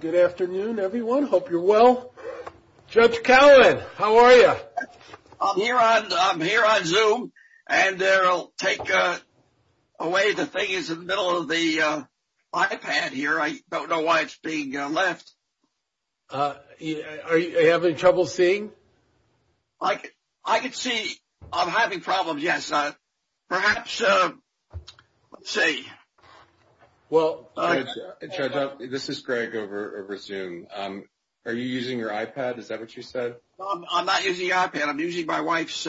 Good afternoon everyone. Hope you're well. Judge Cowen, how are you? I'm here on Zoom and I'll take away the thing is in the middle of the iPad here. I don't know why it's being left. Are you having trouble seeing? I can see I'm having problems, yes. Perhaps, let's see. Well, Judge, this is Greg over Zoom. Are you using your iPad? Is that what you said? I'm not using the iPad. I'm using my wife's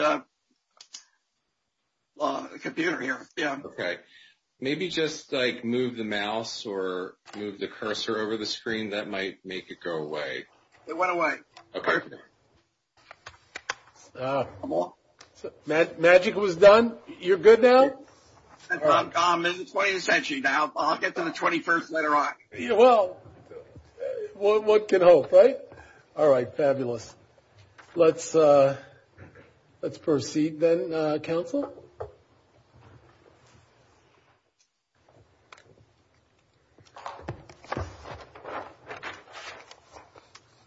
computer here. Okay. Maybe just like move the mouse or move the cursor over the You're good now? I'm in the 20th century now. I'll get to the 21st later on. Well, what can hope, right? All right. Fabulous. Let's proceed then, counsel.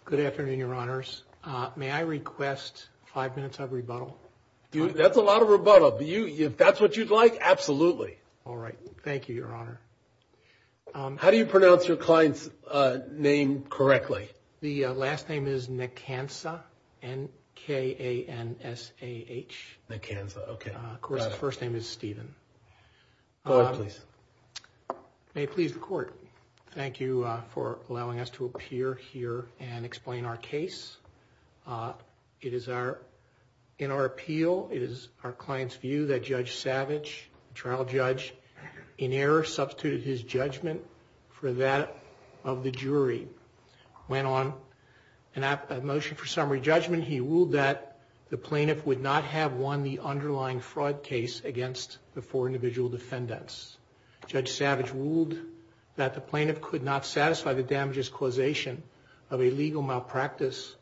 Good afternoon, Your Honors. May I request five minutes of rebuttal? If that's what you'd like, absolutely. All right. Thank you, Your Honor. How do you pronounce your client's name correctly? The last name is Nkansah. N-K-A-N-S-A-H. Nkansah, okay. Of course, the first name is Steven. Go ahead, please. May it please the court. Thank you for allowing us to appear here and explain our case. It is in our appeal, it is our client's view that Judge Savage, trial judge, in error substituted his judgment for that of the jury. Went on a motion for summary judgment. He ruled that the plaintiff would not have won the underlying fraud case against the four individual defendants. Judge Savage ruled that the plaintiff could not satisfy the damages causation of a legal malpractice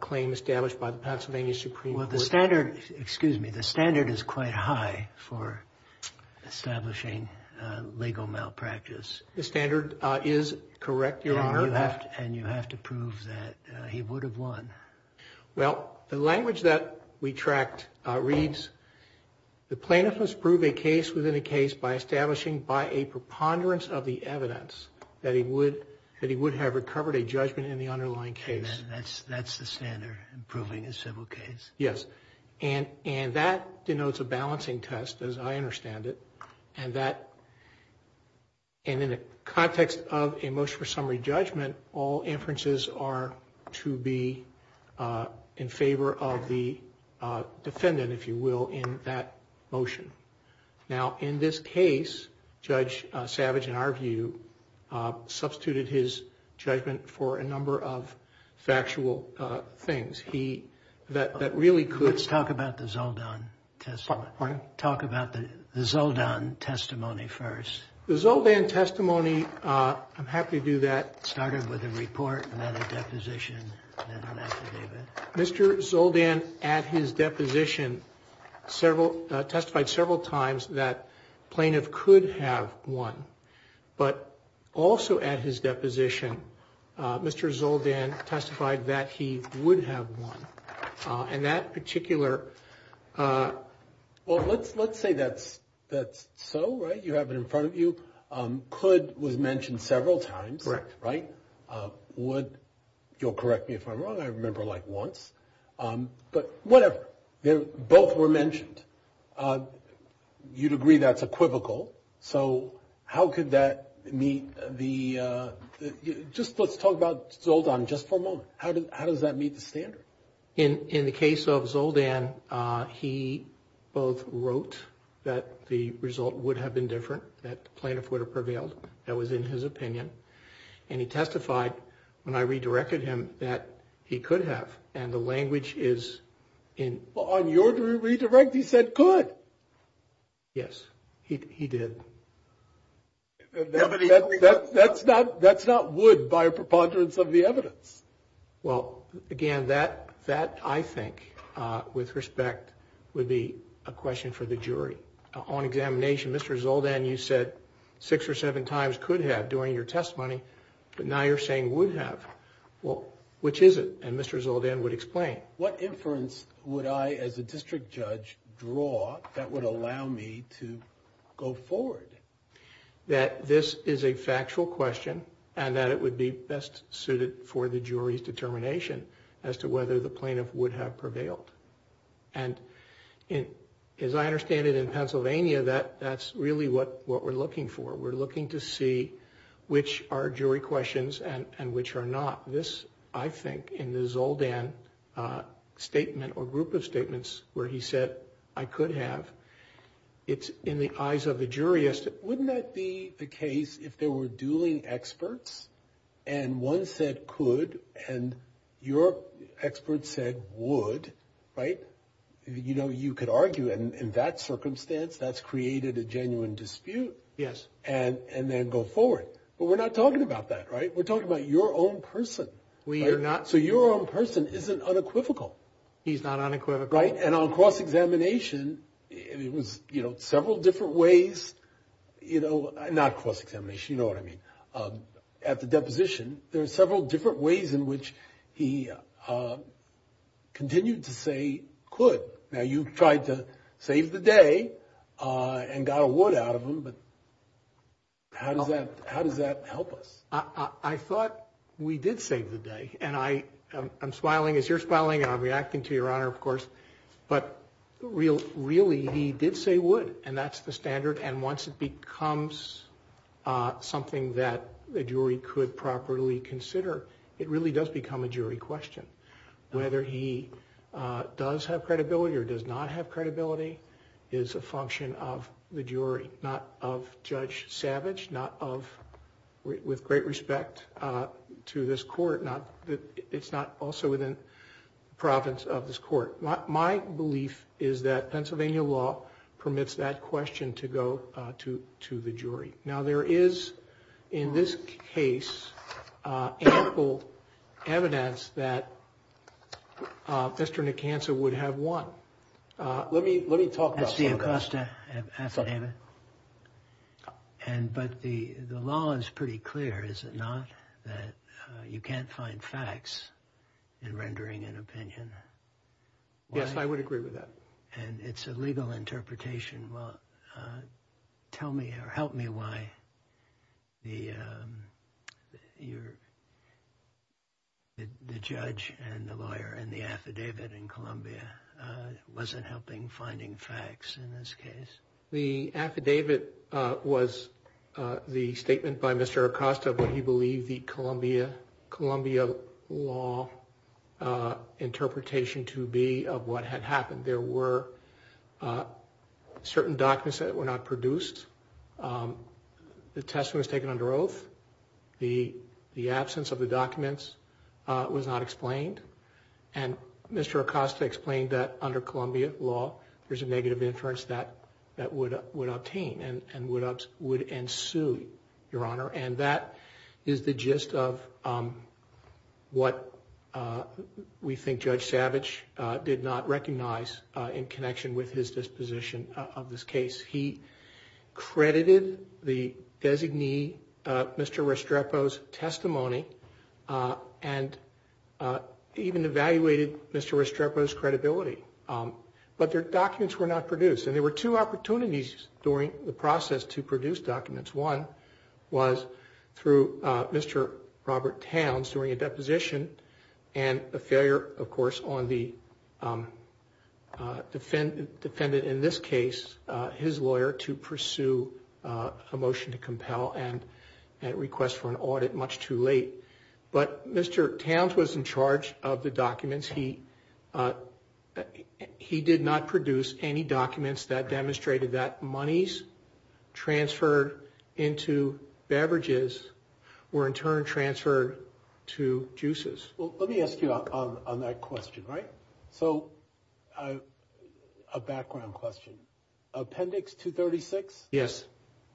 claim established by the Pennsylvania Supreme Court. Well, the standard, excuse me, the standard is quite high for establishing legal malpractice. The standard is correct, Your Honor. And you have to prove that he would have won. Well, the language that we tracked reads, the plaintiff must prove a case within a case by establishing by a preponderance of the evidence that he would have recovered a judgment in the underlying case. That's the standard, proving a civil case. Yes, and that denotes a balancing test, as I understand it. And in the context of a motion for summary judgment, all inferences are to be in favor of the defendant, if you will, in that motion. Now, in this case, Judge Savage, in our view, substituted his judgment for a number of factual things. He, that really could... Let's talk about the Zoldan testimony. Pardon? Talk about the Zoldan testimony first. The Zoldan testimony, I'm happy to do that. Started with a report and then a deposition, then an interview, several times that the plaintiff could have won. But also at his deposition, Mr. Zoldan testified that he would have won. And that particular... Well, let's say that's so, right? You have it in front of you. Could was mentioned several times. Correct. Right? Would, you'll correct me if I'm wrong, I remember like once. But whatever, both were mentioned. You'd agree that's equivocal. So how could that meet the... Just let's talk about Zoldan just for a moment. How does that meet the standard? In the case of Zoldan, he both wrote that the result would have been different, that the plaintiff would have prevailed. That was in his opinion. And he testified when I redirected him that he could have. And the language is in... Well, on your redirect, he said could. Yes, he did. That's not would by a preponderance of the evidence. Well, again, that I think with respect would be a question for the jury. On examination, Mr. Zoldan, you said six or seven times could have during your testimony, but now you're saying would have. Well, which is it? And Mr. Zoldan would explain. What inference would I as a district judge draw that would allow me to go forward? That this is a factual question and that it would be best suited for the jury's determination as to whether the plaintiff would have prevailed. And as I understand it in Pennsylvania, that that's really what we're looking for. We're looking to in the Zoldan statement or group of statements where he said I could have. It's in the eyes of the jurist. Wouldn't that be the case if there were dueling experts and one said could and your expert said would, right? You know, you could argue in that circumstance that's created a genuine dispute. Yes. And then go forward. But we're not talking about that, right? We're talking about your own person. So your own person isn't unequivocal. He's not unequivocal. Right. And on cross-examination, it was, you know, several different ways, you know, not cross-examination, you know what I mean. At the deposition, there are several different ways in which he continued to say could. Now you've tried to save the day and got a would out of him. But how does that, how does that help us? I thought we did save the day and I am smiling as you're smiling and I'm reacting to your honor, of course. But really, really, he did say would and that's the standard. And once it becomes something that the jury could properly consider, it really does become a jury question. Whether he does have a jury, not of Judge Savage, not of, with great respect to this court, not that it's not also within the province of this court. My belief is that Pennsylvania law permits that question to go to the jury. Now there is, in this case, ample evidence that Mr. Nikansa would have won. Let me ask you, and but the law is pretty clear, is it not, that you can't find facts in rendering an opinion? Yes, I would agree with that. And it's a legal interpretation. Well, tell me or help me why the judge and the lawyer and the affidavit in Columbia wasn't helping finding facts in this case. The affidavit was the statement by Mr Acosta of what he believed the Columbia law interpretation to be of what had happened. There were certain documents that were not produced. Um, the testimony was taken under oath. The absence of the documents was not explained. And Mr Acosta explained that under Columbia law, there's a negative inference that would obtain and would ensue, Your Honor. And that is the gist of what we think Judge Savage did not recognize in connection with his disposition of this case. He credited the designee, Mr Restrepo's testimony, and even evaluated Mr Restrepo's credibility. But their were two opportunities during the process to produce documents. One was through Mr Robert Towns during a deposition and a failure, of course, on the defendant in this case, his lawyer, to pursue a motion to compel and request for an audit much too late. But Mr Towns was in charge of the documents. He, uh, he did not produce any documents that demonstrated that monies transferred into beverages were in turn transferred to juices. Let me ask you on that question, right? So, uh, a background question. Appendix 236? Yes.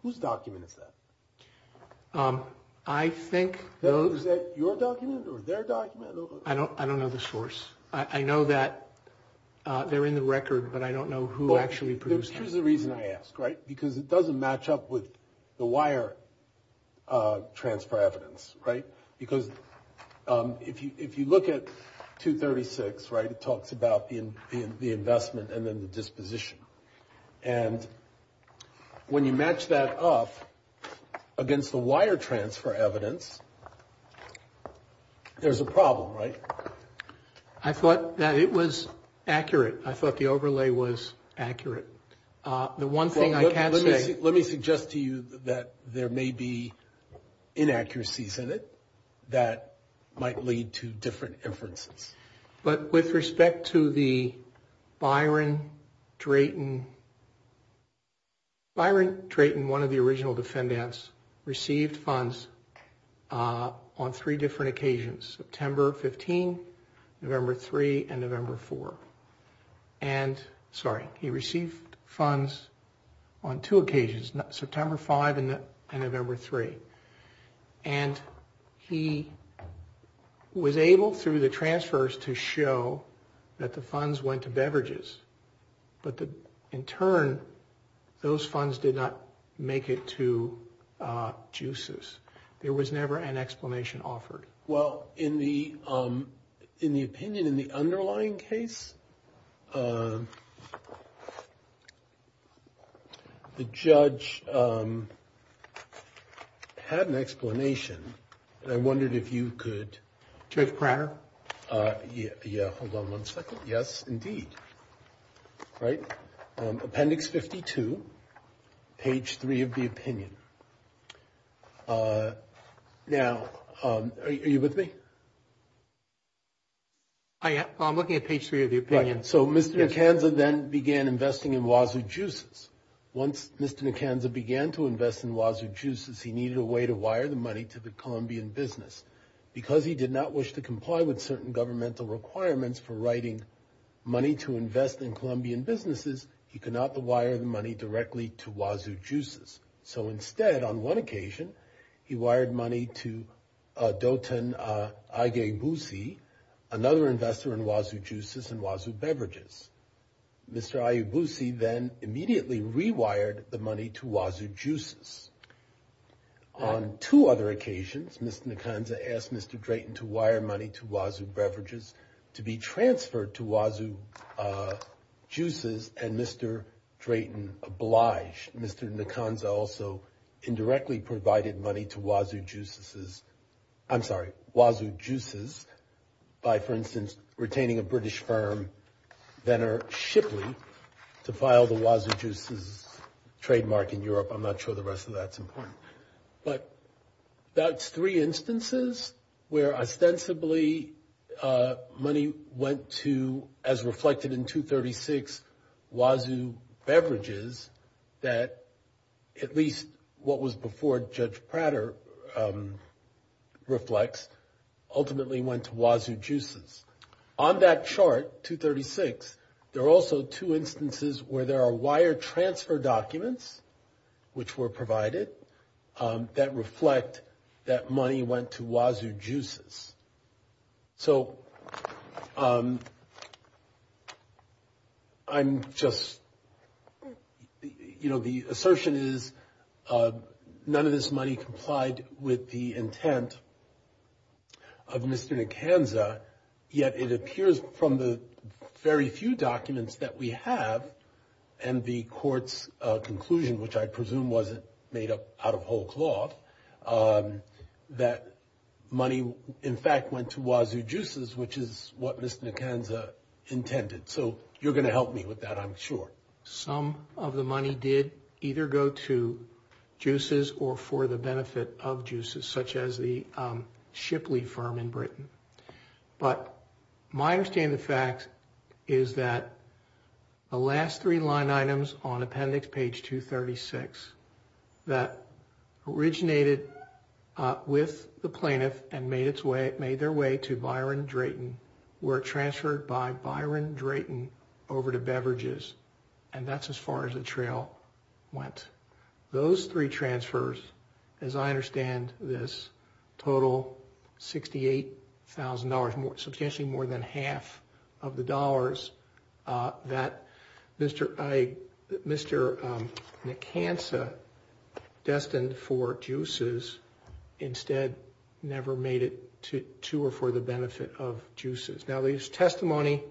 Whose document is that? Um, I don't I don't know the source. I know that they're in the record, but I don't know who actually produced it. Here's the reason I ask, right? Because it doesn't match up with the wire, uh, transfer evidence, right? Because, um, if you if you look at 236, right, it talks about the investment and then the disposition. And when you match that up against the wire transfer evidence, there's a problem, right? I thought that it was accurate. I thought the overlay was accurate. Uh, the one thing I can say, let me suggest to you that there may be inaccuracies in it that might lead to different inferences. But with respect to the Byron Drayton, um, Byron Drayton, one of the original defendants, received funds, uh, on three different occasions, September 15, November 3 and November 4. And sorry, he received funds on two occasions, September 5 and November 3. And he was able through the transfers to show that the funds went to beverages. But in turn, those funds did not make it to, uh, juices. There was never an explanation offered. Well, in the, um, in the opinion in the underlying case, uh, the judge, um, had an explanation. I wondered if you could take prayer. Uh, yeah. Hold on one second. Yes, indeed. Right. Appendix 52. Page three of the opinion. Uh, now, um, are you with me? I am. I'm looking at page three of the opinion. So Mr McKenzie then began investing in wazoo juices. Once Mr McKenzie began to invest in wazoo juices, he needed a way to wire the money to the Colombian business because he did not wish to comply with certain governmental requirements for writing money to invest in Colombian businesses. He could not the wire the money directly to wazoo juices. So instead, on one occasion, he wired money to, uh, doton, uh, I gave Lucy another investor in wazoo juices and wazoo beverages. Mr. I Lucy then immediately rewired the money to wazoo juices. On two other occasions, Mr Nikonza asked Mr Drayton to wire money to wazoo beverages to be transferred to wazoo, uh, juices and Mr Drayton obliged. Mr Nikonza also indirectly provided money to wazoo juices. I'm sorry, wazoo juices. I'm not sure the rest of that's important, but that's three instances where ostensibly, uh, money went to, as reflected in 236 wazoo beverages that at least what was before Judge Prater, um, reflects ultimately went to wazoo juices. On that chart, 236, there are also two instances where there are wire transfer documents which were provided, um, that reflect that money went to wazoo juices. So, um, I'm just, you know, the assertion is, uh, none of this money complied with the intent of Mr Nikonza, yet it appears from the very few documents that we have and the court's conclusion, which I presume wasn't made up out of whole cloth, um, that money in fact went to wazoo juices, which is what Mr Nikonza intended. So you're going to help me with that, I'm sure. Some of the money did either go to juices or for the benefit of juices, such as the, um, Shipley firm in Britain. But my understanding of the facts is that the last three line items on appendix page 236 that originated, uh, with the plaintiff and made its way, made their way to Byron Drayton were transferred by Byron Drayton over to beverages. And that's as far as the trail went. Those three transfers, as I understand this total $68,000 more, substantially more than half of the dollars, uh, that Mr Nikonza destined for juices instead never made it to two or for the benefit of juices. Now, there's testimony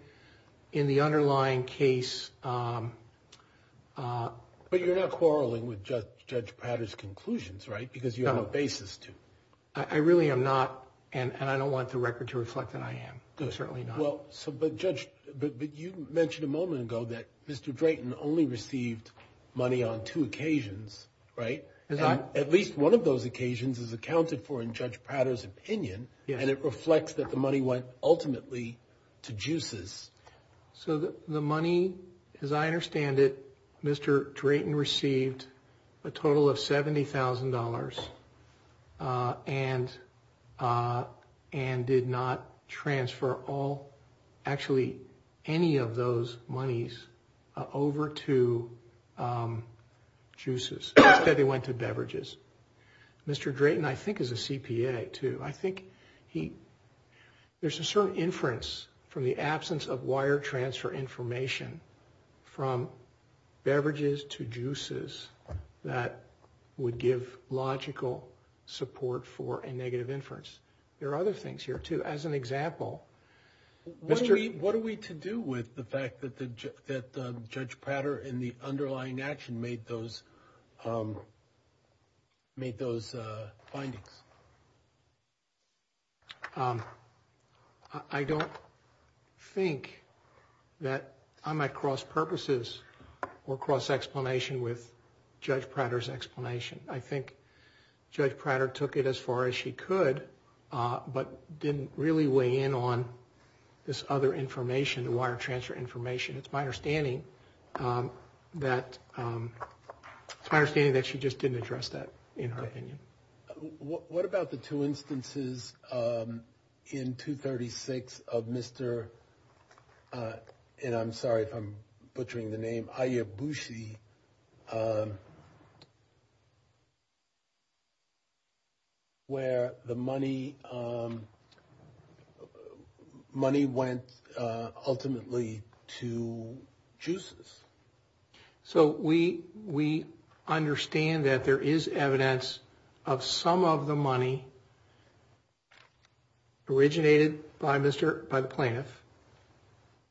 in the underlying case. Um, uh, but you're not quarreling with Judge Prater's conclusions, right? Because you have a basis to. I really am not. And I don't want the record to reflect that. I am certainly not. Well, so, but Judge, but you mentioned a moment ago that Mr Drayton only received money on two occasions, right? At least one of those occasions is accounted for in Judge Prater's opinion, and it reflects that the money went ultimately to juices. So the money, as I understand it, Mr Drayton received a total of $70,000. Uh, and, uh, and did not transfer all actually any of those monies over to, um, juices. Instead, they went to beverages. Mr Drayton, I think, is a CPA too. I think he there's a certain inference from the absence of wire transfer information from beverages to juices that would give logical support for a negative inference. There are other things here too. As an example, Mr, what are we to do with the fact that that Judge Prater in the underlying action made those, um, made those findings? Um, I don't think that I might cross purposes or cross explanation with Judge Prater's explanation. I think Judge Prater took it as far as she could, but didn't really weigh in on this other information, the wire transfer information. It's my understanding, um, that, um, I understand that she just didn't address that in her opinion. What about the two instances, um, in 2 36 of Mr, uh, and I'm sorry if I'm butchering the name, Aya Bushi. Um, where the money, um, money went, uh, ultimately to juices. So we we understand that there is evidence of some of the money originated by Mr by the plaintiff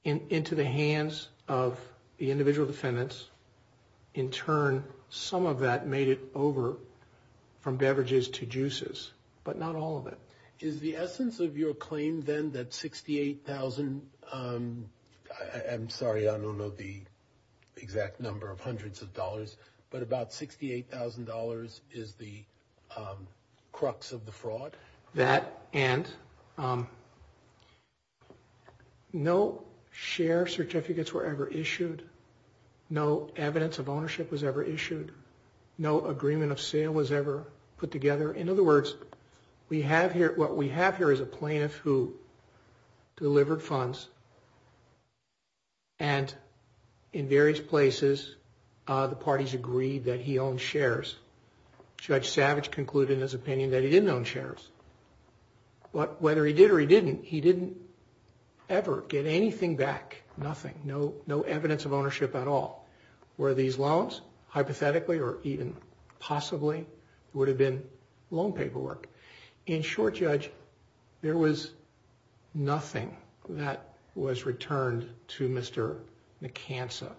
into the hands of the individual defendants. In turn, some of that made it over from beverages to juices, but not all of it is the essence of your claim. Then that 68,000. Um, I'm sorry. I don't know the exact number of hundreds of dollars, but about $68,000 is the, um, crux of the evidence of ownership was ever issued. No agreement of sale was ever put together. In other words, we have here what we have here is a plaintiff who delivered funds and in various places, the parties agreed that he owned shares. Judge Savage concluded his opinion that he didn't own shares. But whether he did or he didn't, he didn't ever get anything back. Nothing. No, no evidence of ownership at all. Were these loans hypothetically or even possibly would have been loan paperwork. In short, Judge, there was nothing that was returned to Mr McCancer.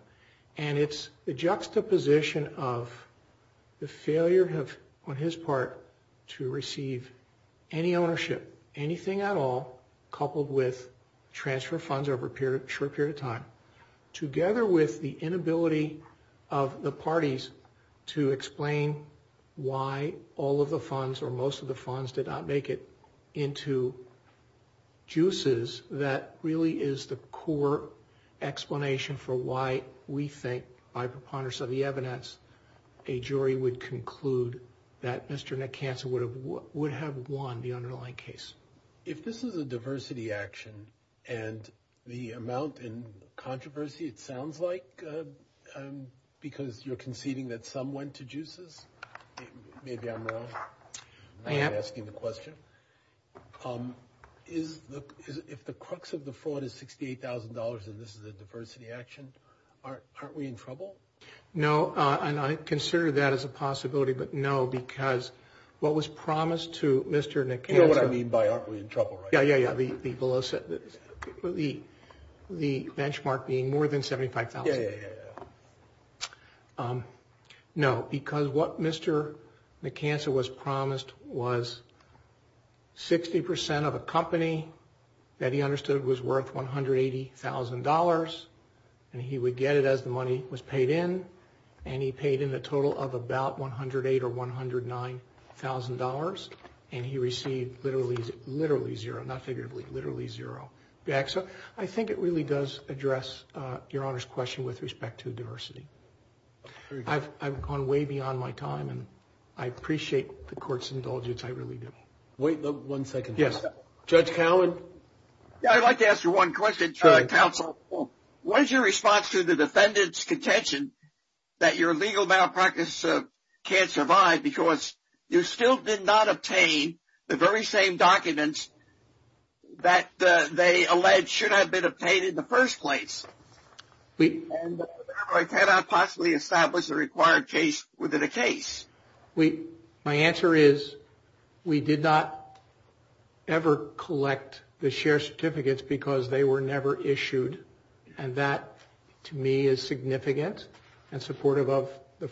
And it's the juxtaposition of the failure of on his part to receive any ownership, anything at all, coupled with transfer funds over a period of short period of time, together with the inability of the parties to explain why all of the funds or most of the funds did not make it into juices. That really is the core explanation for why we think by preponderance of the evidence, a jury would conclude that Mr McCancer would have would have won the underlying case. If this is a diversity action and the amount in controversy, it sounds like because you're conceding that some went to juices. Maybe I'm wrong. I am asking the question. Is if the crux of the fraud is $68,000 and this is a diversity action, aren't we in trouble? No, and I consider that as a possibility. But no, because what was promised to Mr McCancer. You know what I mean by aren't we in trouble, right? Yeah, yeah, yeah. The below said the the the benchmark being more than 75,000. Um, no, because what Mr McCancer was promised was 60% of a company that he understood was worth $180,000. And he would get it as the money was paid in. And he paid in a total of about 108 or $109,000. And he received literally, literally zero, not figuratively, literally zero back. So I think it really does address your honor's question with respect to diversity. I've gone way beyond my time, and I appreciate the court's indulgence. I really do. Wait one second. Yes, Judge Cowen. I'd like to ask you one question. Try Council. What is your response to the defendant's contention that your the very same documents that they alleged should have been obtained in the first place. We cannot possibly establish a required case within a case. We My answer is we did not ever collect the share certificates because they were never issued. And that, to me, is significant and supportive of the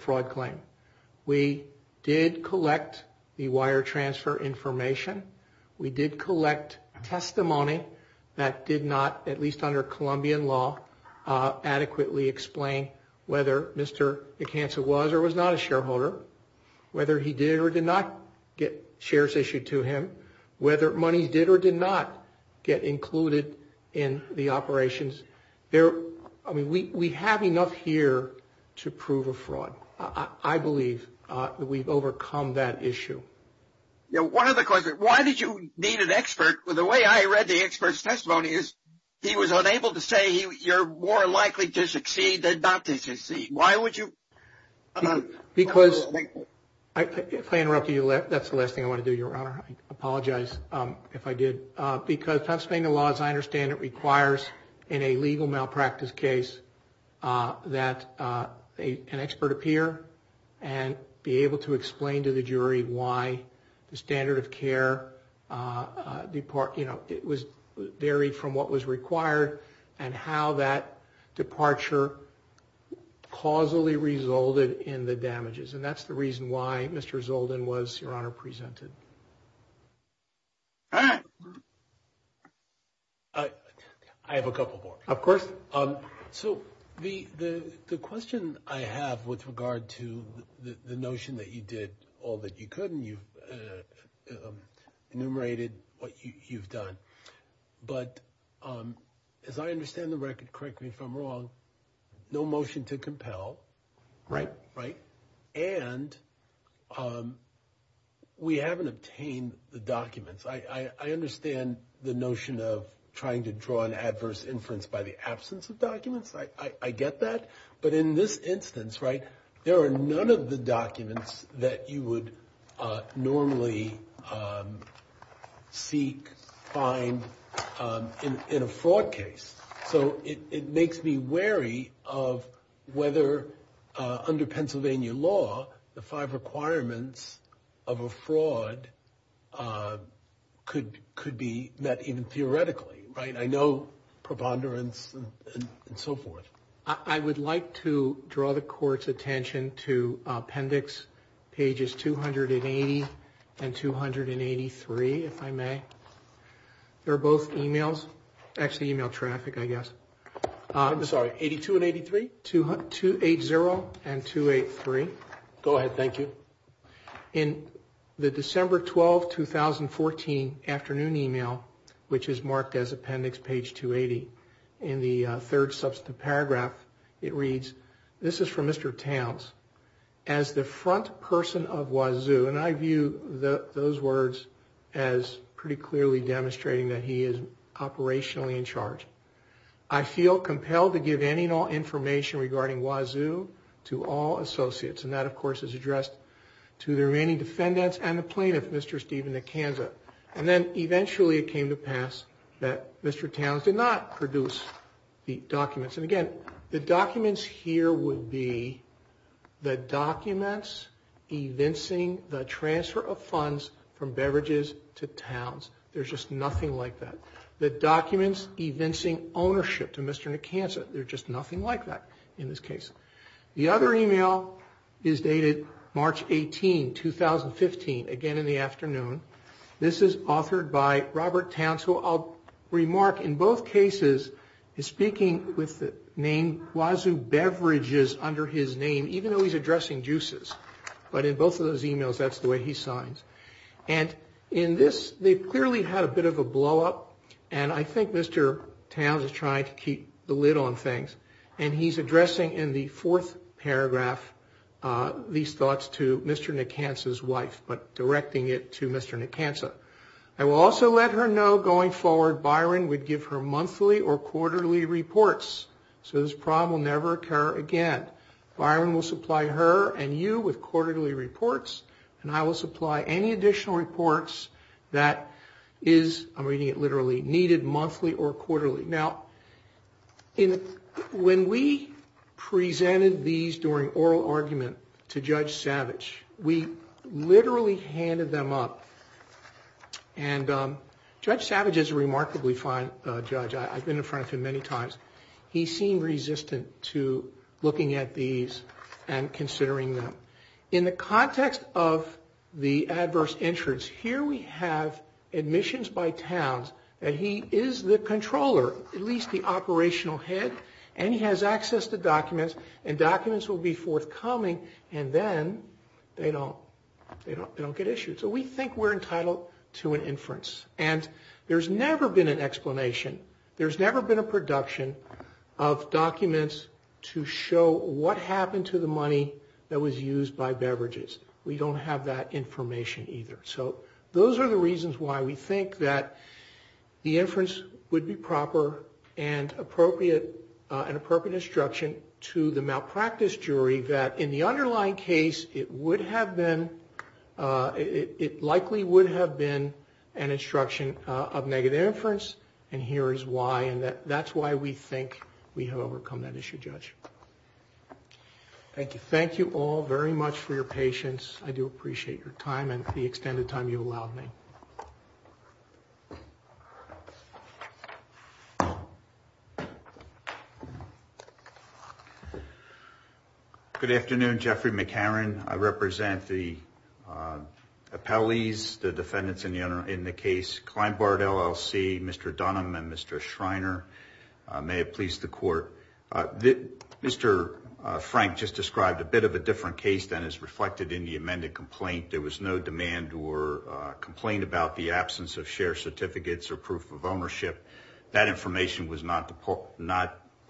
We did collect testimony that did not, at least under Colombian law, adequately explain whether Mr McCancer was or was not a shareholder, whether he did or did not get shares issued to him, whether money did or did not get included in the operations there. I mean, we have enough here to prove a fraud. I believe we've Why did you need an expert? The way I read the expert's testimony is he was unable to say you're more likely to succeed than not to succeed. Why would you? Because if I interrupt you, that's the last thing I want to do, Your Honor. I apologize if I did because Pennsylvania law, as I understand it, requires in a legal malpractice case that an expert appear and be able to where it was varied from what was required and how that departure causally resulted in the damages. And that's the reason why Mr Zoldyn was, Your Honor, presented. I have a couple more. Of course. So the question I have with regard to the enumerated what you've done. But as I understand the record, correct me if I'm wrong, no motion to compel. Right. Right. And we haven't obtained the documents. I understand the notion of trying to draw an adverse inference by the absence of documents. I get that. But in this instance, right, there are none of the seek, find in a fraud case. So it makes me wary of whether under Pennsylvania law, the five requirements of a fraud could could be met even theoretically. Right. I know preponderance and so forth. I would like to draw the court's appendix pages 280 and 283. If I may, they're both emails. Actually, email traffic, I guess. I'm sorry, 82 and 83 to 280 and 283. Go ahead. Thank you. In the December 12, 2014 afternoon email, which is marked as appendix page 280 in the third substantive paragraph, it as the front person of Wazoo. And I view those words as pretty clearly demonstrating that he is operationally in charge. I feel compelled to give any and all information regarding Wazoo to all associates. And that, of course, is addressed to the remaining defendants and the plaintiff, Mr. Steven Acanza. And then eventually it came to pass that Mr Towns did not produce the documents evincing the transfer of funds from beverages to Towns. There's just nothing like that. The documents evincing ownership to Mr. Acanza. There's just nothing like that in this case. The other email is dated March 18, 2015, again in the afternoon. This is authored by Robert Towns, who I'll remark in both cases is speaking with the name Wazoo Beverages under his name, even though he's addressing juices. But in both of those emails, that's the way he signs. And in this, they clearly had a bit of a blow up. And I think Mr. Towns is trying to keep the lid on things. And he's addressing in the fourth paragraph these thoughts to Mr. Acanza's wife, but directing it to Mr. Acanza. I will also let her know going forward Byron would give her monthly or quarterly reports. Byron will supply her and you with quarterly reports, and I will supply any additional reports that is, I'm reading it literally, needed monthly or quarterly. Now, when we presented these during oral argument to Judge Savage, we literally handed them up. And Judge Savage is a remarkably fine judge. I've been in front of him many times. He seemed resistant to looking at these and considering them. In the context of the adverse insurance, here we have admissions by Towns that he is the controller, at least the operational head. And he has access to documents and documents will be forthcoming. And then they don't get issued. So we think we're entitled to an inference. And there's never been an explanation. There's never been a way to show what happened to the money that was used by beverages. We don't have that information either. So those are the reasons why we think that the inference would be proper and appropriate, an appropriate instruction to the malpractice jury that in the underlying case, it would have been, it likely would have been an instruction of negative inference. And here is why. That's why we think we have overcome that issue, Judge. Thank you. Thank you all very much for your patience. I do appreciate your time and the extended time you allowed me. Good afternoon, Jeffrey McCarran. I represent the appellees, the defendants in the case, Kleinbart LLC, Mr. Dunham and Mr. Schreiner. May it please the court. Mr. Frank just described a bit of a different case than is reflected in the amended complaint. There was no demand or complaint about the absence of shared certificates or proof of ownership. That information was not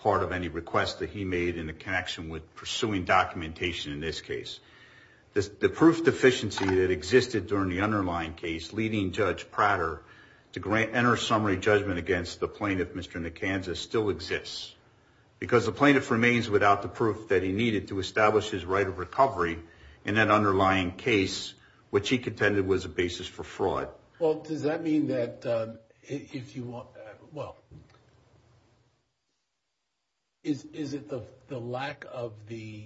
part of any requests that he made in the connection with pursuing documentation in this case. The proof deficiency that existed during the meeting, Judge Prater, to grant, enter summary judgment against the plaintiff, Mr. Nicanza, still exists because the plaintiff remains without the proof that he needed to establish his right of recovery in that underlying case, which he contended was a basis for fraud. Well, does that mean that if you want, well, is, is it the lack of the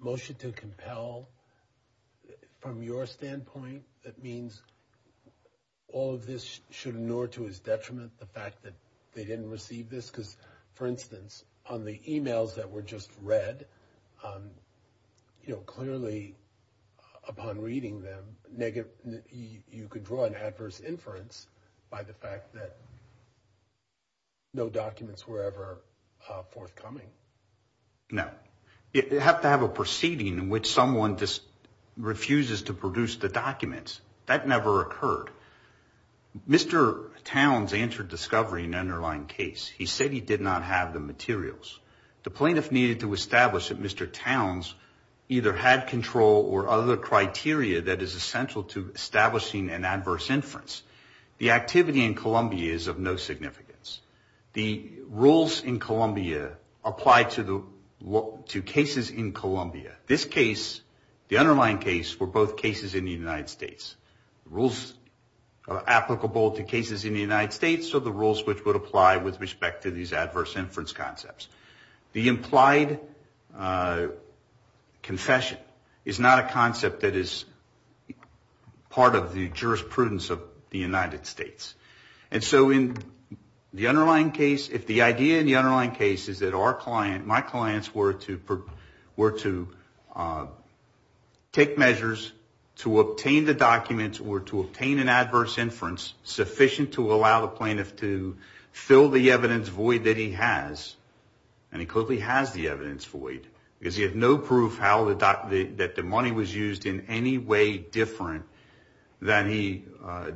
motion to compel from your standpoint, that means all of this should inure to his detriment, the fact that they didn't receive this? Because, for instance, on the emails that were just read, you know, clearly upon reading them negative, you could draw an adverse inference by the fact that no documents were ever forthcoming. No, you have to have a proceeding in which someone just refuses to produce the documents. That never occurred. Mr. Towns answered discovery in an underlying case. He said he did not have the materials. The plaintiff needed to establish that Mr. Towns either had control or other criteria that is essential to establishing an adverse inference. The activity in Columbia is of no significance. The rules in the underlying case were both cases in the United States. Rules are applicable to cases in the United States, so the rules which would apply with respect to these adverse inference concepts. The implied confession is not a concept that is part of the jurisprudence of the United States. And so in the underlying case, if the idea in the underlying case is that our client, my clients were to, uh, take measures to obtain the documents or to obtain an adverse inference sufficient to allow the plaintiff to fill the evidence void that he has. And he clearly has the evidence void because he has no proof how the that the money was used in any way different than he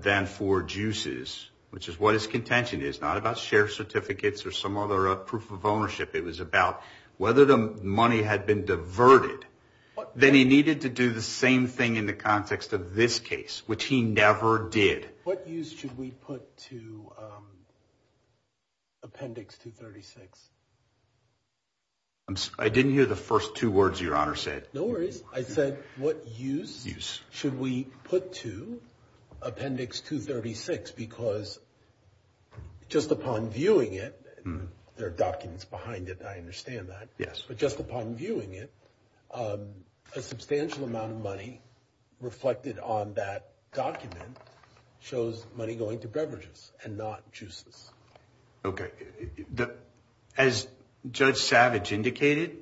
than for juices, which is what his contention is not about share certificates or some other proof of that he needed to do the same thing in the context of this case, which he never did. What use should we put to appendix to 36? I didn't hear the first two words your honor said. No worries. I said, What use should we put to appendix to 36? Because just upon viewing it, there are documents behind it. I understand that. Yes. But just upon viewing it, um, a substantial amount of money reflected on that document shows money going to beverages and not juices. Okay. As Judge Savage indicated,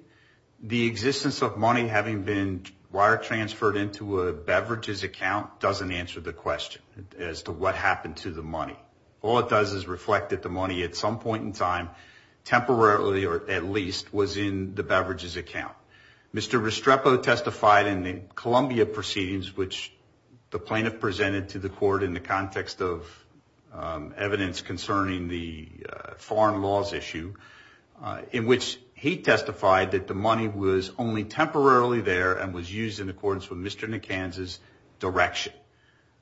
the existence of money having been wire transferred into a beverages account doesn't answer the question as to what happened to the money. All it does is reflected the money at some point in time temporarily or at least was in the beverages account. Mr Restrepo testified in the Columbia proceedings, which the plaintiff presented to the court in the context of evidence concerning the foreign laws issue, in which he testified that the money was only temporarily there and was used in accordance with Mr McCann's direction.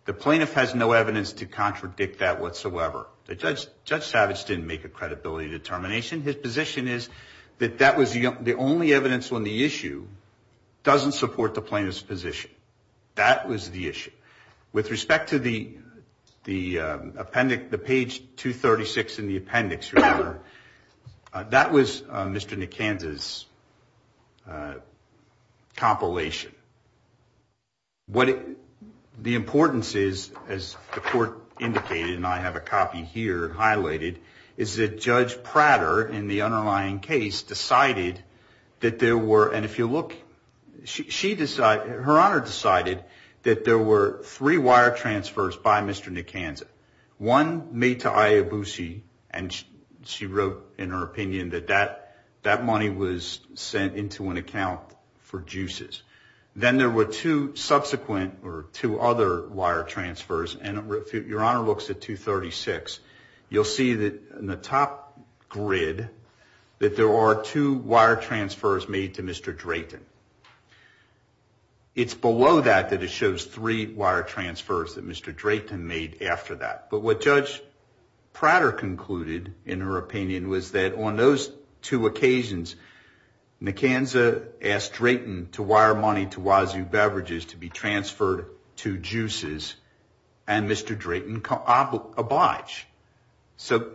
The plaintiff has no evidence to contradict that whatsoever. The judge, Judge Savage, didn't make a that that was the only evidence when the issue doesn't support the plaintiff's position. That was the issue with respect to the the appendix, the page 2 36 in the appendix. Remember, that was Mr Nick Kansas. Uh, compilation. What the importance is, as the court indicated, and I have a copy here highlighted, is that Judge Prater, in the underlying case, decided that there were, and if you look, she decided, her honor decided that there were three wire transfers by Mr Nick Kansas. One made to Ayobusi, and she wrote in her opinion that that that money was sent into an account for juices. Then there were two subsequent or two other wire transfers, and your honor looks at 2 36. You'll see that in the top grid that there are two wire transfers made to Mr Drayton. It's below that, that it shows three wire transfers that Mr Drayton made after that. But what Judge Prater concluded, in her opinion, was that on those two occasions, Nick Kansas asked Drayton to wire money to Wazoo Beverages to be transferred to juices, and Mr Drayton obliged. So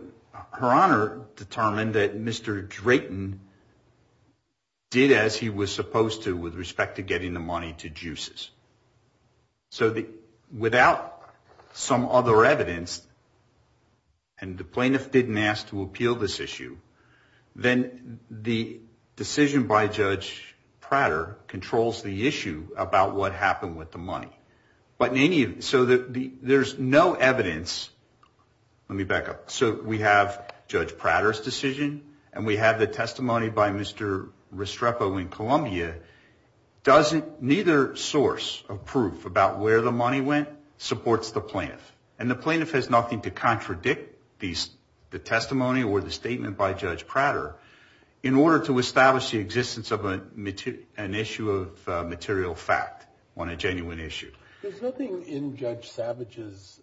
her honor determined that Mr Drayton did as he was supposed to with respect to getting the money to juices. So without some other evidence, and the plaintiff didn't ask to appeal this issue, then the decision by Judge Prater controls the issue about what happened with the money. So there's no evidence. Let me back up. So we have Judge Prater's decision, and we have the testimony by Mr Restrepo in Columbia. Neither source of proof about where the money went supports the plaintiff, and the plaintiff has nothing to contradict the testimony or the statement by Judge Prater in order to material fact on a genuine issue. There's nothing in Judge Savage's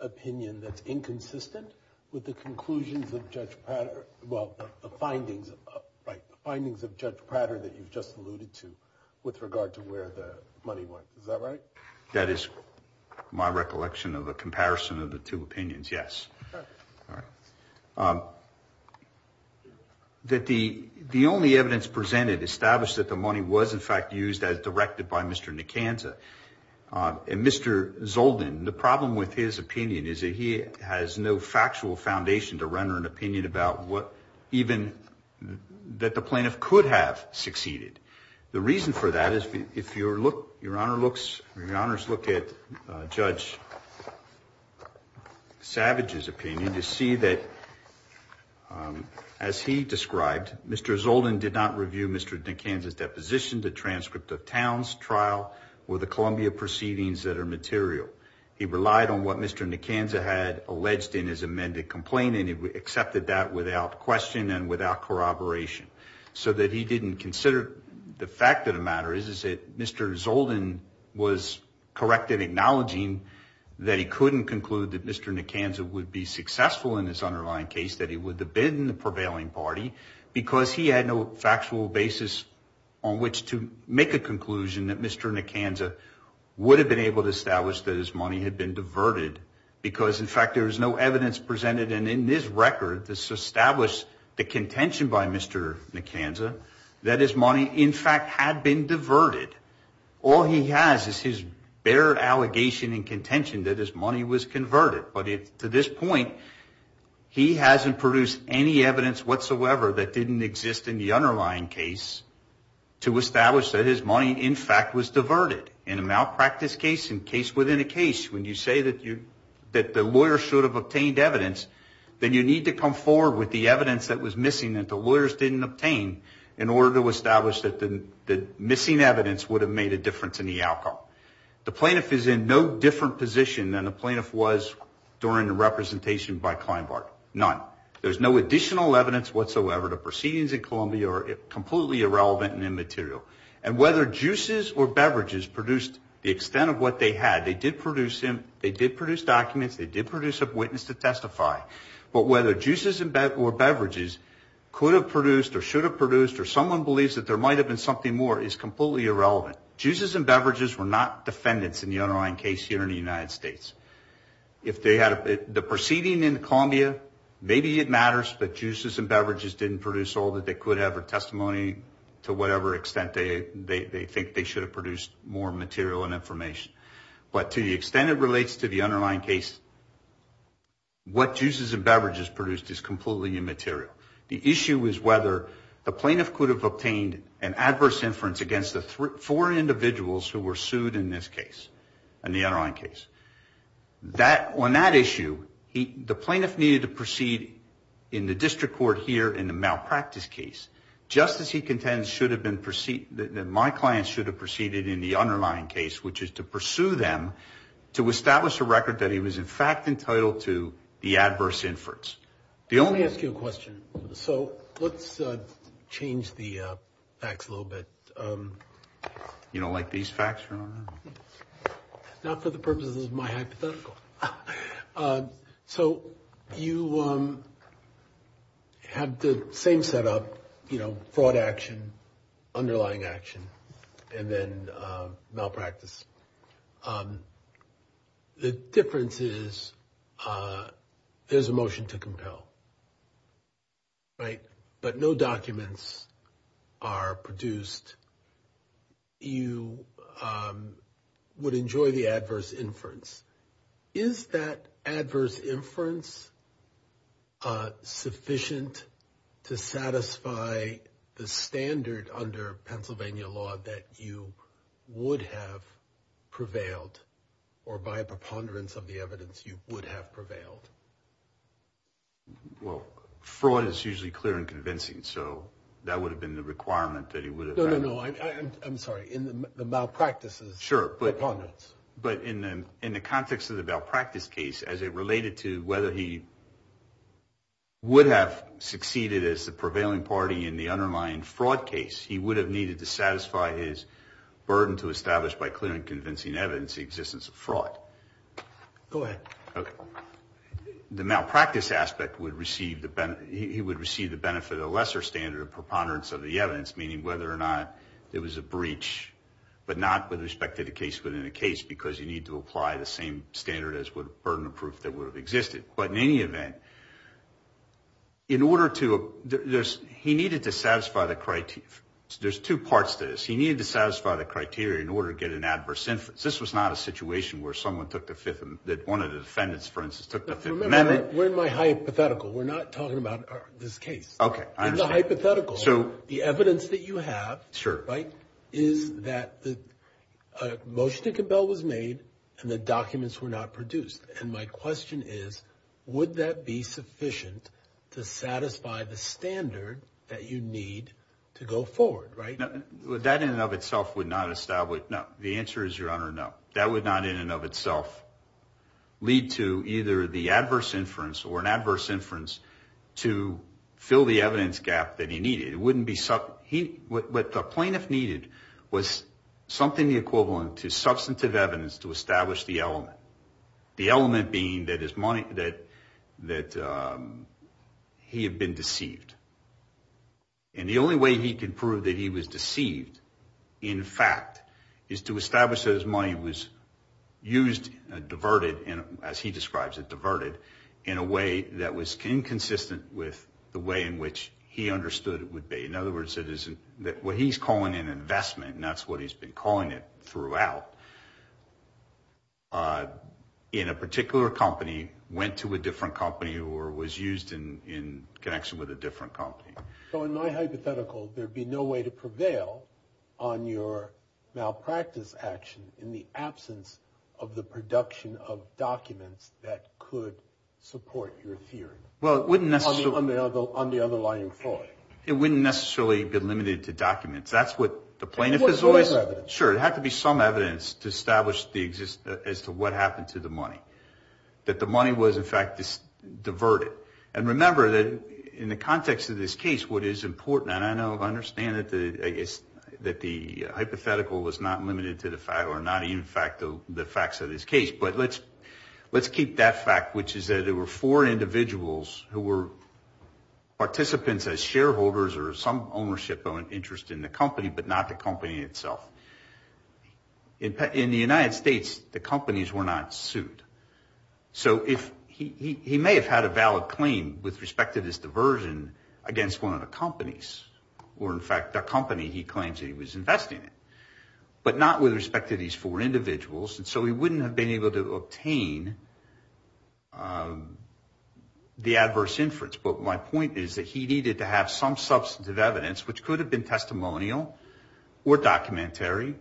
opinion that's inconsistent with the conclusions of Judge Prater, well, the findings of, right, the findings of Judge Prater that you've just alluded to with regard to where the money went. Is that right? That is my recollection of a comparison of the two opinions, yes. All right. That the only evidence presented established that the money was, in fact, used as directed by Mr Nicanza. And Mr Zoldin, the problem with his opinion is that he has no factual foundation to render an opinion about what even that the plaintiff could have succeeded. The reason for that is if your honor looks, your honors look at Judge Savage's opinion, you see that as he described, Mr Zoldin did not review Mr Nicanza's deposition, the transcript of Towne's trial, or the Columbia proceedings that are material. He relied on what Mr Nicanza had alleged in his amended complaint, and he accepted that without question and without corroboration. So that he didn't Zoldin was correct in acknowledging that he couldn't conclude that Mr Nicanza would be successful in this underlying case, that he would have been the prevailing party because he had no factual basis on which to make a conclusion that Mr Nicanza would have been able to establish that his money had been diverted because, in fact, there is no evidence presented. And in this record, this established the contention by Mr Nicanza that his money, in fact, had been diverted. All he has is his bare allegation and contention that his money was converted. But to this point, he hasn't produced any evidence whatsoever that didn't exist in the underlying case to establish that his money, in fact, was diverted. In a malpractice case, in a case within a case, when you say that the lawyer should have obtained evidence, then you need to come forward with the evidence that was missing that the lawyers didn't obtain in order to establish that the missing evidence would have made a difference in the outcome. The plaintiff is in no different position than the plaintiff was during the representation by Kleinbart. None. There's no additional evidence whatsoever. The proceedings in Columbia are completely irrelevant and immaterial. And whether juices or beverages produced the extent of what they had, they did produce documents, they did produce a witness to testify. But whether juices or beverages could have produced or should have produced, or someone believes that there might have been something more, is completely irrelevant. Juices and beverages were not defendants in the underlying case here in the United States. If they had... The proceeding in Columbia, maybe it matters, but juices and beverages didn't produce all that they could have or testimony to whatever extent they think they should have produced more material and information. But to the extent it relates to the underlying case, what juices and beverages could have produced, the plaintiff could have obtained an adverse inference against the four individuals who were sued in this case, in the underlying case. On that issue, the plaintiff needed to proceed in the district court here in the malpractice case, just as he contends should have been... My clients should have proceeded in the underlying case, which is to pursue them to establish a record that he was in fact entitled to the adverse inference. The only... Let me ask you a question. So let's change the facts a little bit. You don't like these facts? Not for the purposes of my hypothetical. So you have the same setup, fraud action, underlying action, and then malpractice. The difference is there's a motion to compel, right? But no documents are produced. You would enjoy the adverse inference. Is that adverse inference sufficient to satisfy the standard under Pennsylvania law that you would have prevailed, or by a preponderance of the evidence, you would have prevailed? Well, fraud is usually clear and convincing, so that would have been the requirement that he would have... No, no, no. I'm sorry. In the malpractice is preponderance. Sure. But in the context of the malpractice case, as it related to whether he would have succeeded as the prevailing party in the underlying fraud case, he would have needed to satisfy his burden to establish by clear and convincing evidence the existence of fraud. Go ahead. Okay. The malpractice aspect would receive the benefit... He would receive the benefit of a lesser standard of preponderance of the evidence, meaning whether or not there was a breach, but not with respect to the case within the case, because you need to apply the same standard as would burden of proof that would have existed. But in any case, there's two parts to this. He needed to satisfy the criteria in order to get an adverse inference. This was not a situation where someone took the fifth... That one of the defendants, for instance, took the fifth amendment. Remember, we're in my hypothetical. We're not talking about this case. Okay. I understand. In the hypothetical, the evidence that you have... Sure. Right? Is that the motion to compel was made and the documents were not produced. And my question is, would that be sufficient to satisfy the standard that you need to go forward, right? That in and of itself would not establish... No. The answer is, Your Honor, no. That would not in and of itself lead to either the adverse inference or an adverse inference to fill the evidence gap that he needed. It wouldn't be... What the plaintiff needed was something the equivalent to substantive evidence to establish the element. The element being that his money... That he had been deceived. And the only way he could prove that he was deceived, in fact, is to establish that his money was used, diverted, as he describes it, diverted in a way that was inconsistent with the way in which he understood it would be. In other words, it isn't... What he's calling an investment, and that's what he's been throughout, in a particular company, went to a different company, or was used in connection with a different company. So in my hypothetical, there'd be no way to prevail on your malpractice action in the absence of the production of documents that could support your theory. Well, it wouldn't necessarily... On the other lying floor. It wouldn't necessarily be limited to documents. That's what the plaintiff is always... It would have to be some evidence. Sure, it'd have to be some evidence to establish as to what happened to the money. That the money was, in fact, diverted. And remember that in the context of this case, what is important... And I know, I understand that the hypothetical was not limited to the fact, or not even the facts of this case. But let's keep that fact, which is that there were four individuals who were participants as shareholders or some ownership of an interest in the company, but not the company itself. In the United States, the companies were not sued. So he may have had a valid claim with respect to this diversion against one of the companies, or in fact, the company he claims that he was investing in, but not with respect to these four individuals. And so he wouldn't have been able to obtain the adverse inference. But my point is that he needed to have some substantive evidence, which could have been testimonial or documentary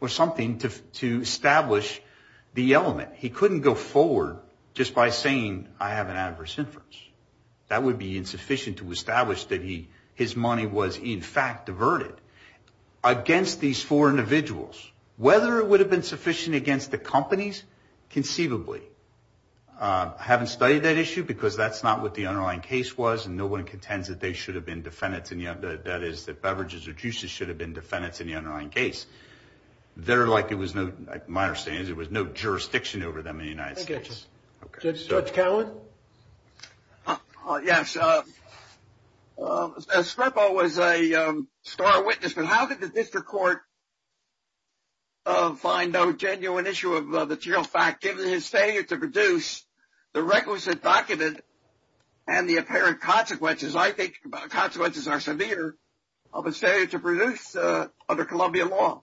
or something to establish the element. He couldn't go forward just by saying, I have an adverse inference. That would be insufficient to establish that his money was, in fact, diverted against these four individuals. Whether it would have been sufficient against the companies, conceivably. I haven't studied that issue because that's not what the underlying case was, and no one contends that they should have been defendants in the... That is, that beverages or juices should have been defendants in the underlying case. They're like, it was no... My understanding is there was no jurisdiction over them in the United States. Judge Cowen? Yes. Scrippo was a star witness, but how did the district court find no genuine issue of the material fact given his failure to produce the requisite document and the apparent consequences? I think consequences are severe of a failure to produce under Columbia law.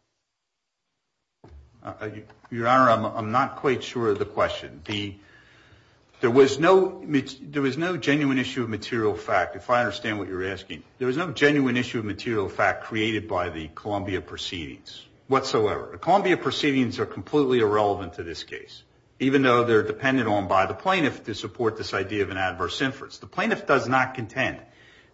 Your Honor, I'm not quite sure of the answer. There was no genuine issue of material fact, if I understand what you're asking. There was no genuine issue of material fact created by the Columbia proceedings whatsoever. The Columbia proceedings are completely irrelevant to this case, even though they're dependent on by the plaintiff to support this idea of an adverse inference. The plaintiff does not contend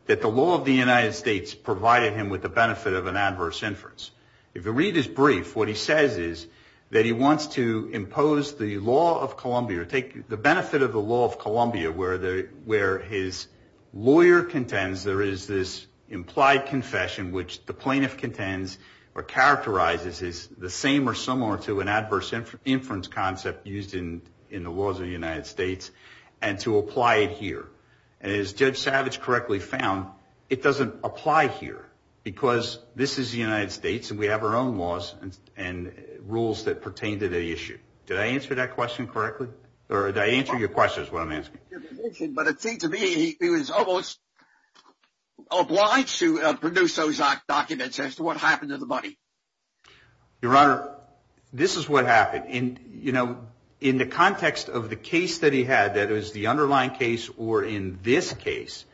that the law of the United States provided him with the benefit of an adverse inference. If you read his brief, what he says is that he wants to impose the law of Columbia or take the benefit of the law of Columbia where his lawyer contends there is this implied confession, which the plaintiff contends or characterizes is the same or similar to an adverse inference concept used in the laws of the United States and to apply it here. And as Judge Savage correctly found, it doesn't apply here because this is the United States and we have our own laws and rules that pertain to the issue. Did I answer that question correctly? Or did I answer your question is what I'm asking. But it seemed to me he was almost obliged to produce those documents as to what happened to the money. Your Honor, this is what happened. In the context of the case that he had, that is the underlying case or in this case,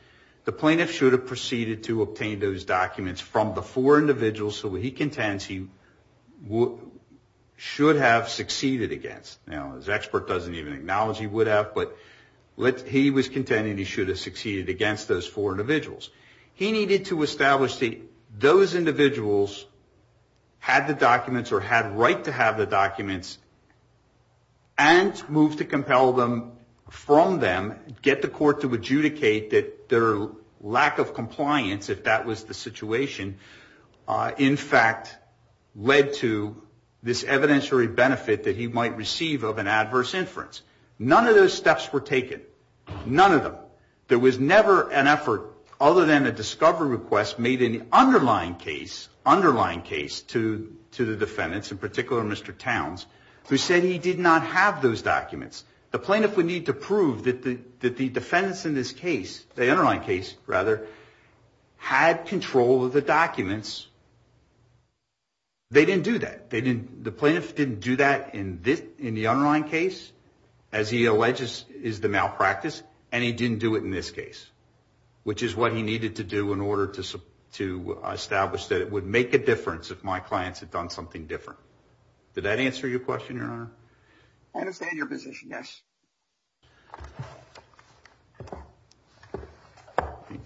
the plaintiff should have proceeded to obtain those documents from the four defendants he should have succeeded against. Now, his expert doesn't even acknowledge he would have, but he was contending he should have succeeded against those four individuals. He needed to establish that those individuals had the documents or had right to have the documents and move to compel them from them, get the court to adjudicate that their lack of compliance, if that was the situation, in fact, led to this evidentiary benefit that he might receive of an adverse inference. None of those steps were taken. None of them. There was never an effort other than a discovery request made in the underlying case, underlying case to the defendants, in particular Mr. Towns, who said he did not have those documents. The plaintiff would need to prove that the defendants in this case, the underlying case rather, had control of the documents. They didn't do that. The plaintiff didn't do that in the underlying case, as he alleges is the malpractice, and he didn't do it in this case, which is what he needed to do in order to establish that it would make a difference if my clients had done something different. Did that answer your question, Your Honor? I understand your position, yes.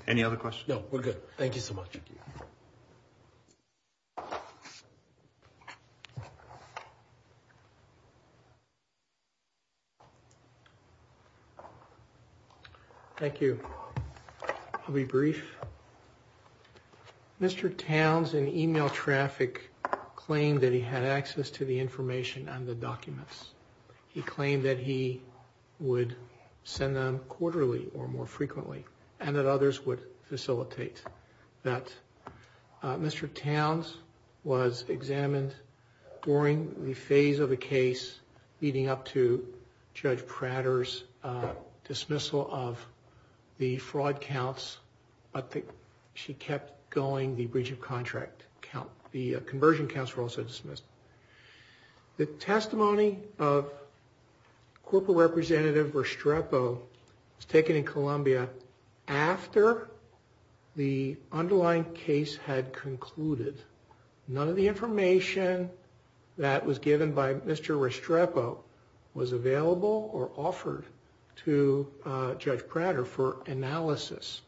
Any other questions? No, we're good. Thank you so much. Thank you, I'll be brief. Mr. Towns, in email traffic, claimed that he had access to the information and the documents. He claimed that he would send them quarterly or more frequently, and that others would facilitate that. Mr. Towns was examined during the phase of the case leading up to Judge Prater's dismissal of the fraud counts, but she kept going the breach of contract count. The conversion counts were also dismissed. The testimony of Corporal Representative Restrepo was taken in Columbia after the underlying case had concluded. None of the information that was given by Mr. Restrepo was available or offered to Judge Prater for analysis.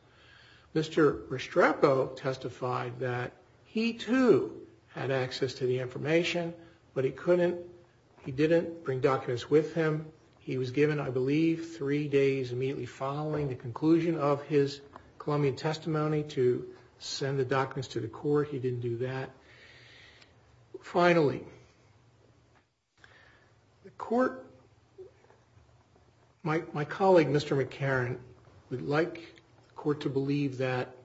Mr. Restrepo testified that he, too, had access to the information, but he didn't bring documents with him. He was given, I believe, three days immediately following the conclusion of his Colombian testimony to send the documents to the court. He didn't do that. Finally, the court, my colleague, Mr. McCarran, would like the court to believe that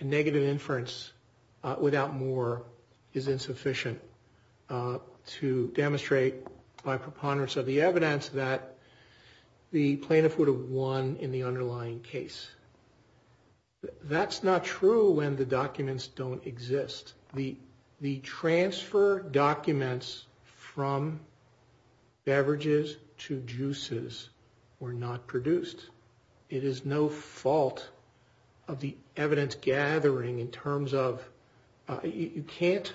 a negative inference without more is insufficient to demonstrate by preponderance of the evidence that the plaintiff would have won in the case. The transfer documents from beverages to juices were not produced. It is no fault of the evidence gathering in terms of, you can't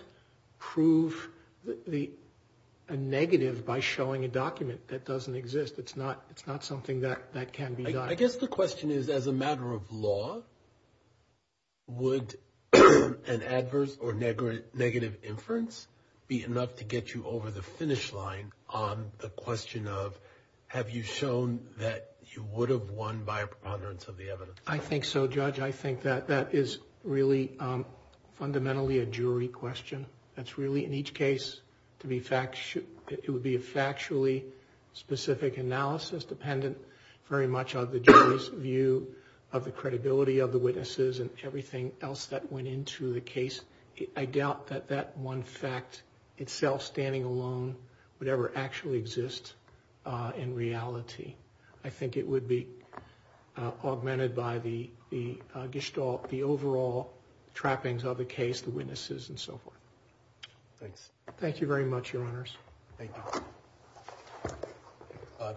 prove a negative by showing a document that doesn't exist. It's not something that can be done. I guess the question is, as a matter of law, would an adverse or negative inference be enough to get you over the finish line on the question of, have you shown that you would have won by a preponderance of the evidence? I think so, Judge. I think that that is really fundamentally a jury question. That's really, in each case, it would be a factually specific analysis dependent very much on the jury's view of the credibility of the witnesses and everything else that went into the case. I doubt that that one fact itself, standing alone, would ever actually exist in reality. I think it would be augmented by the overall trappings of the case, the witnesses, and so forth. Thanks. Thank you very much, Your Honors. Thank you.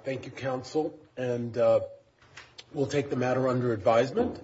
Thank you, counsel, and we'll take the matter under advisement.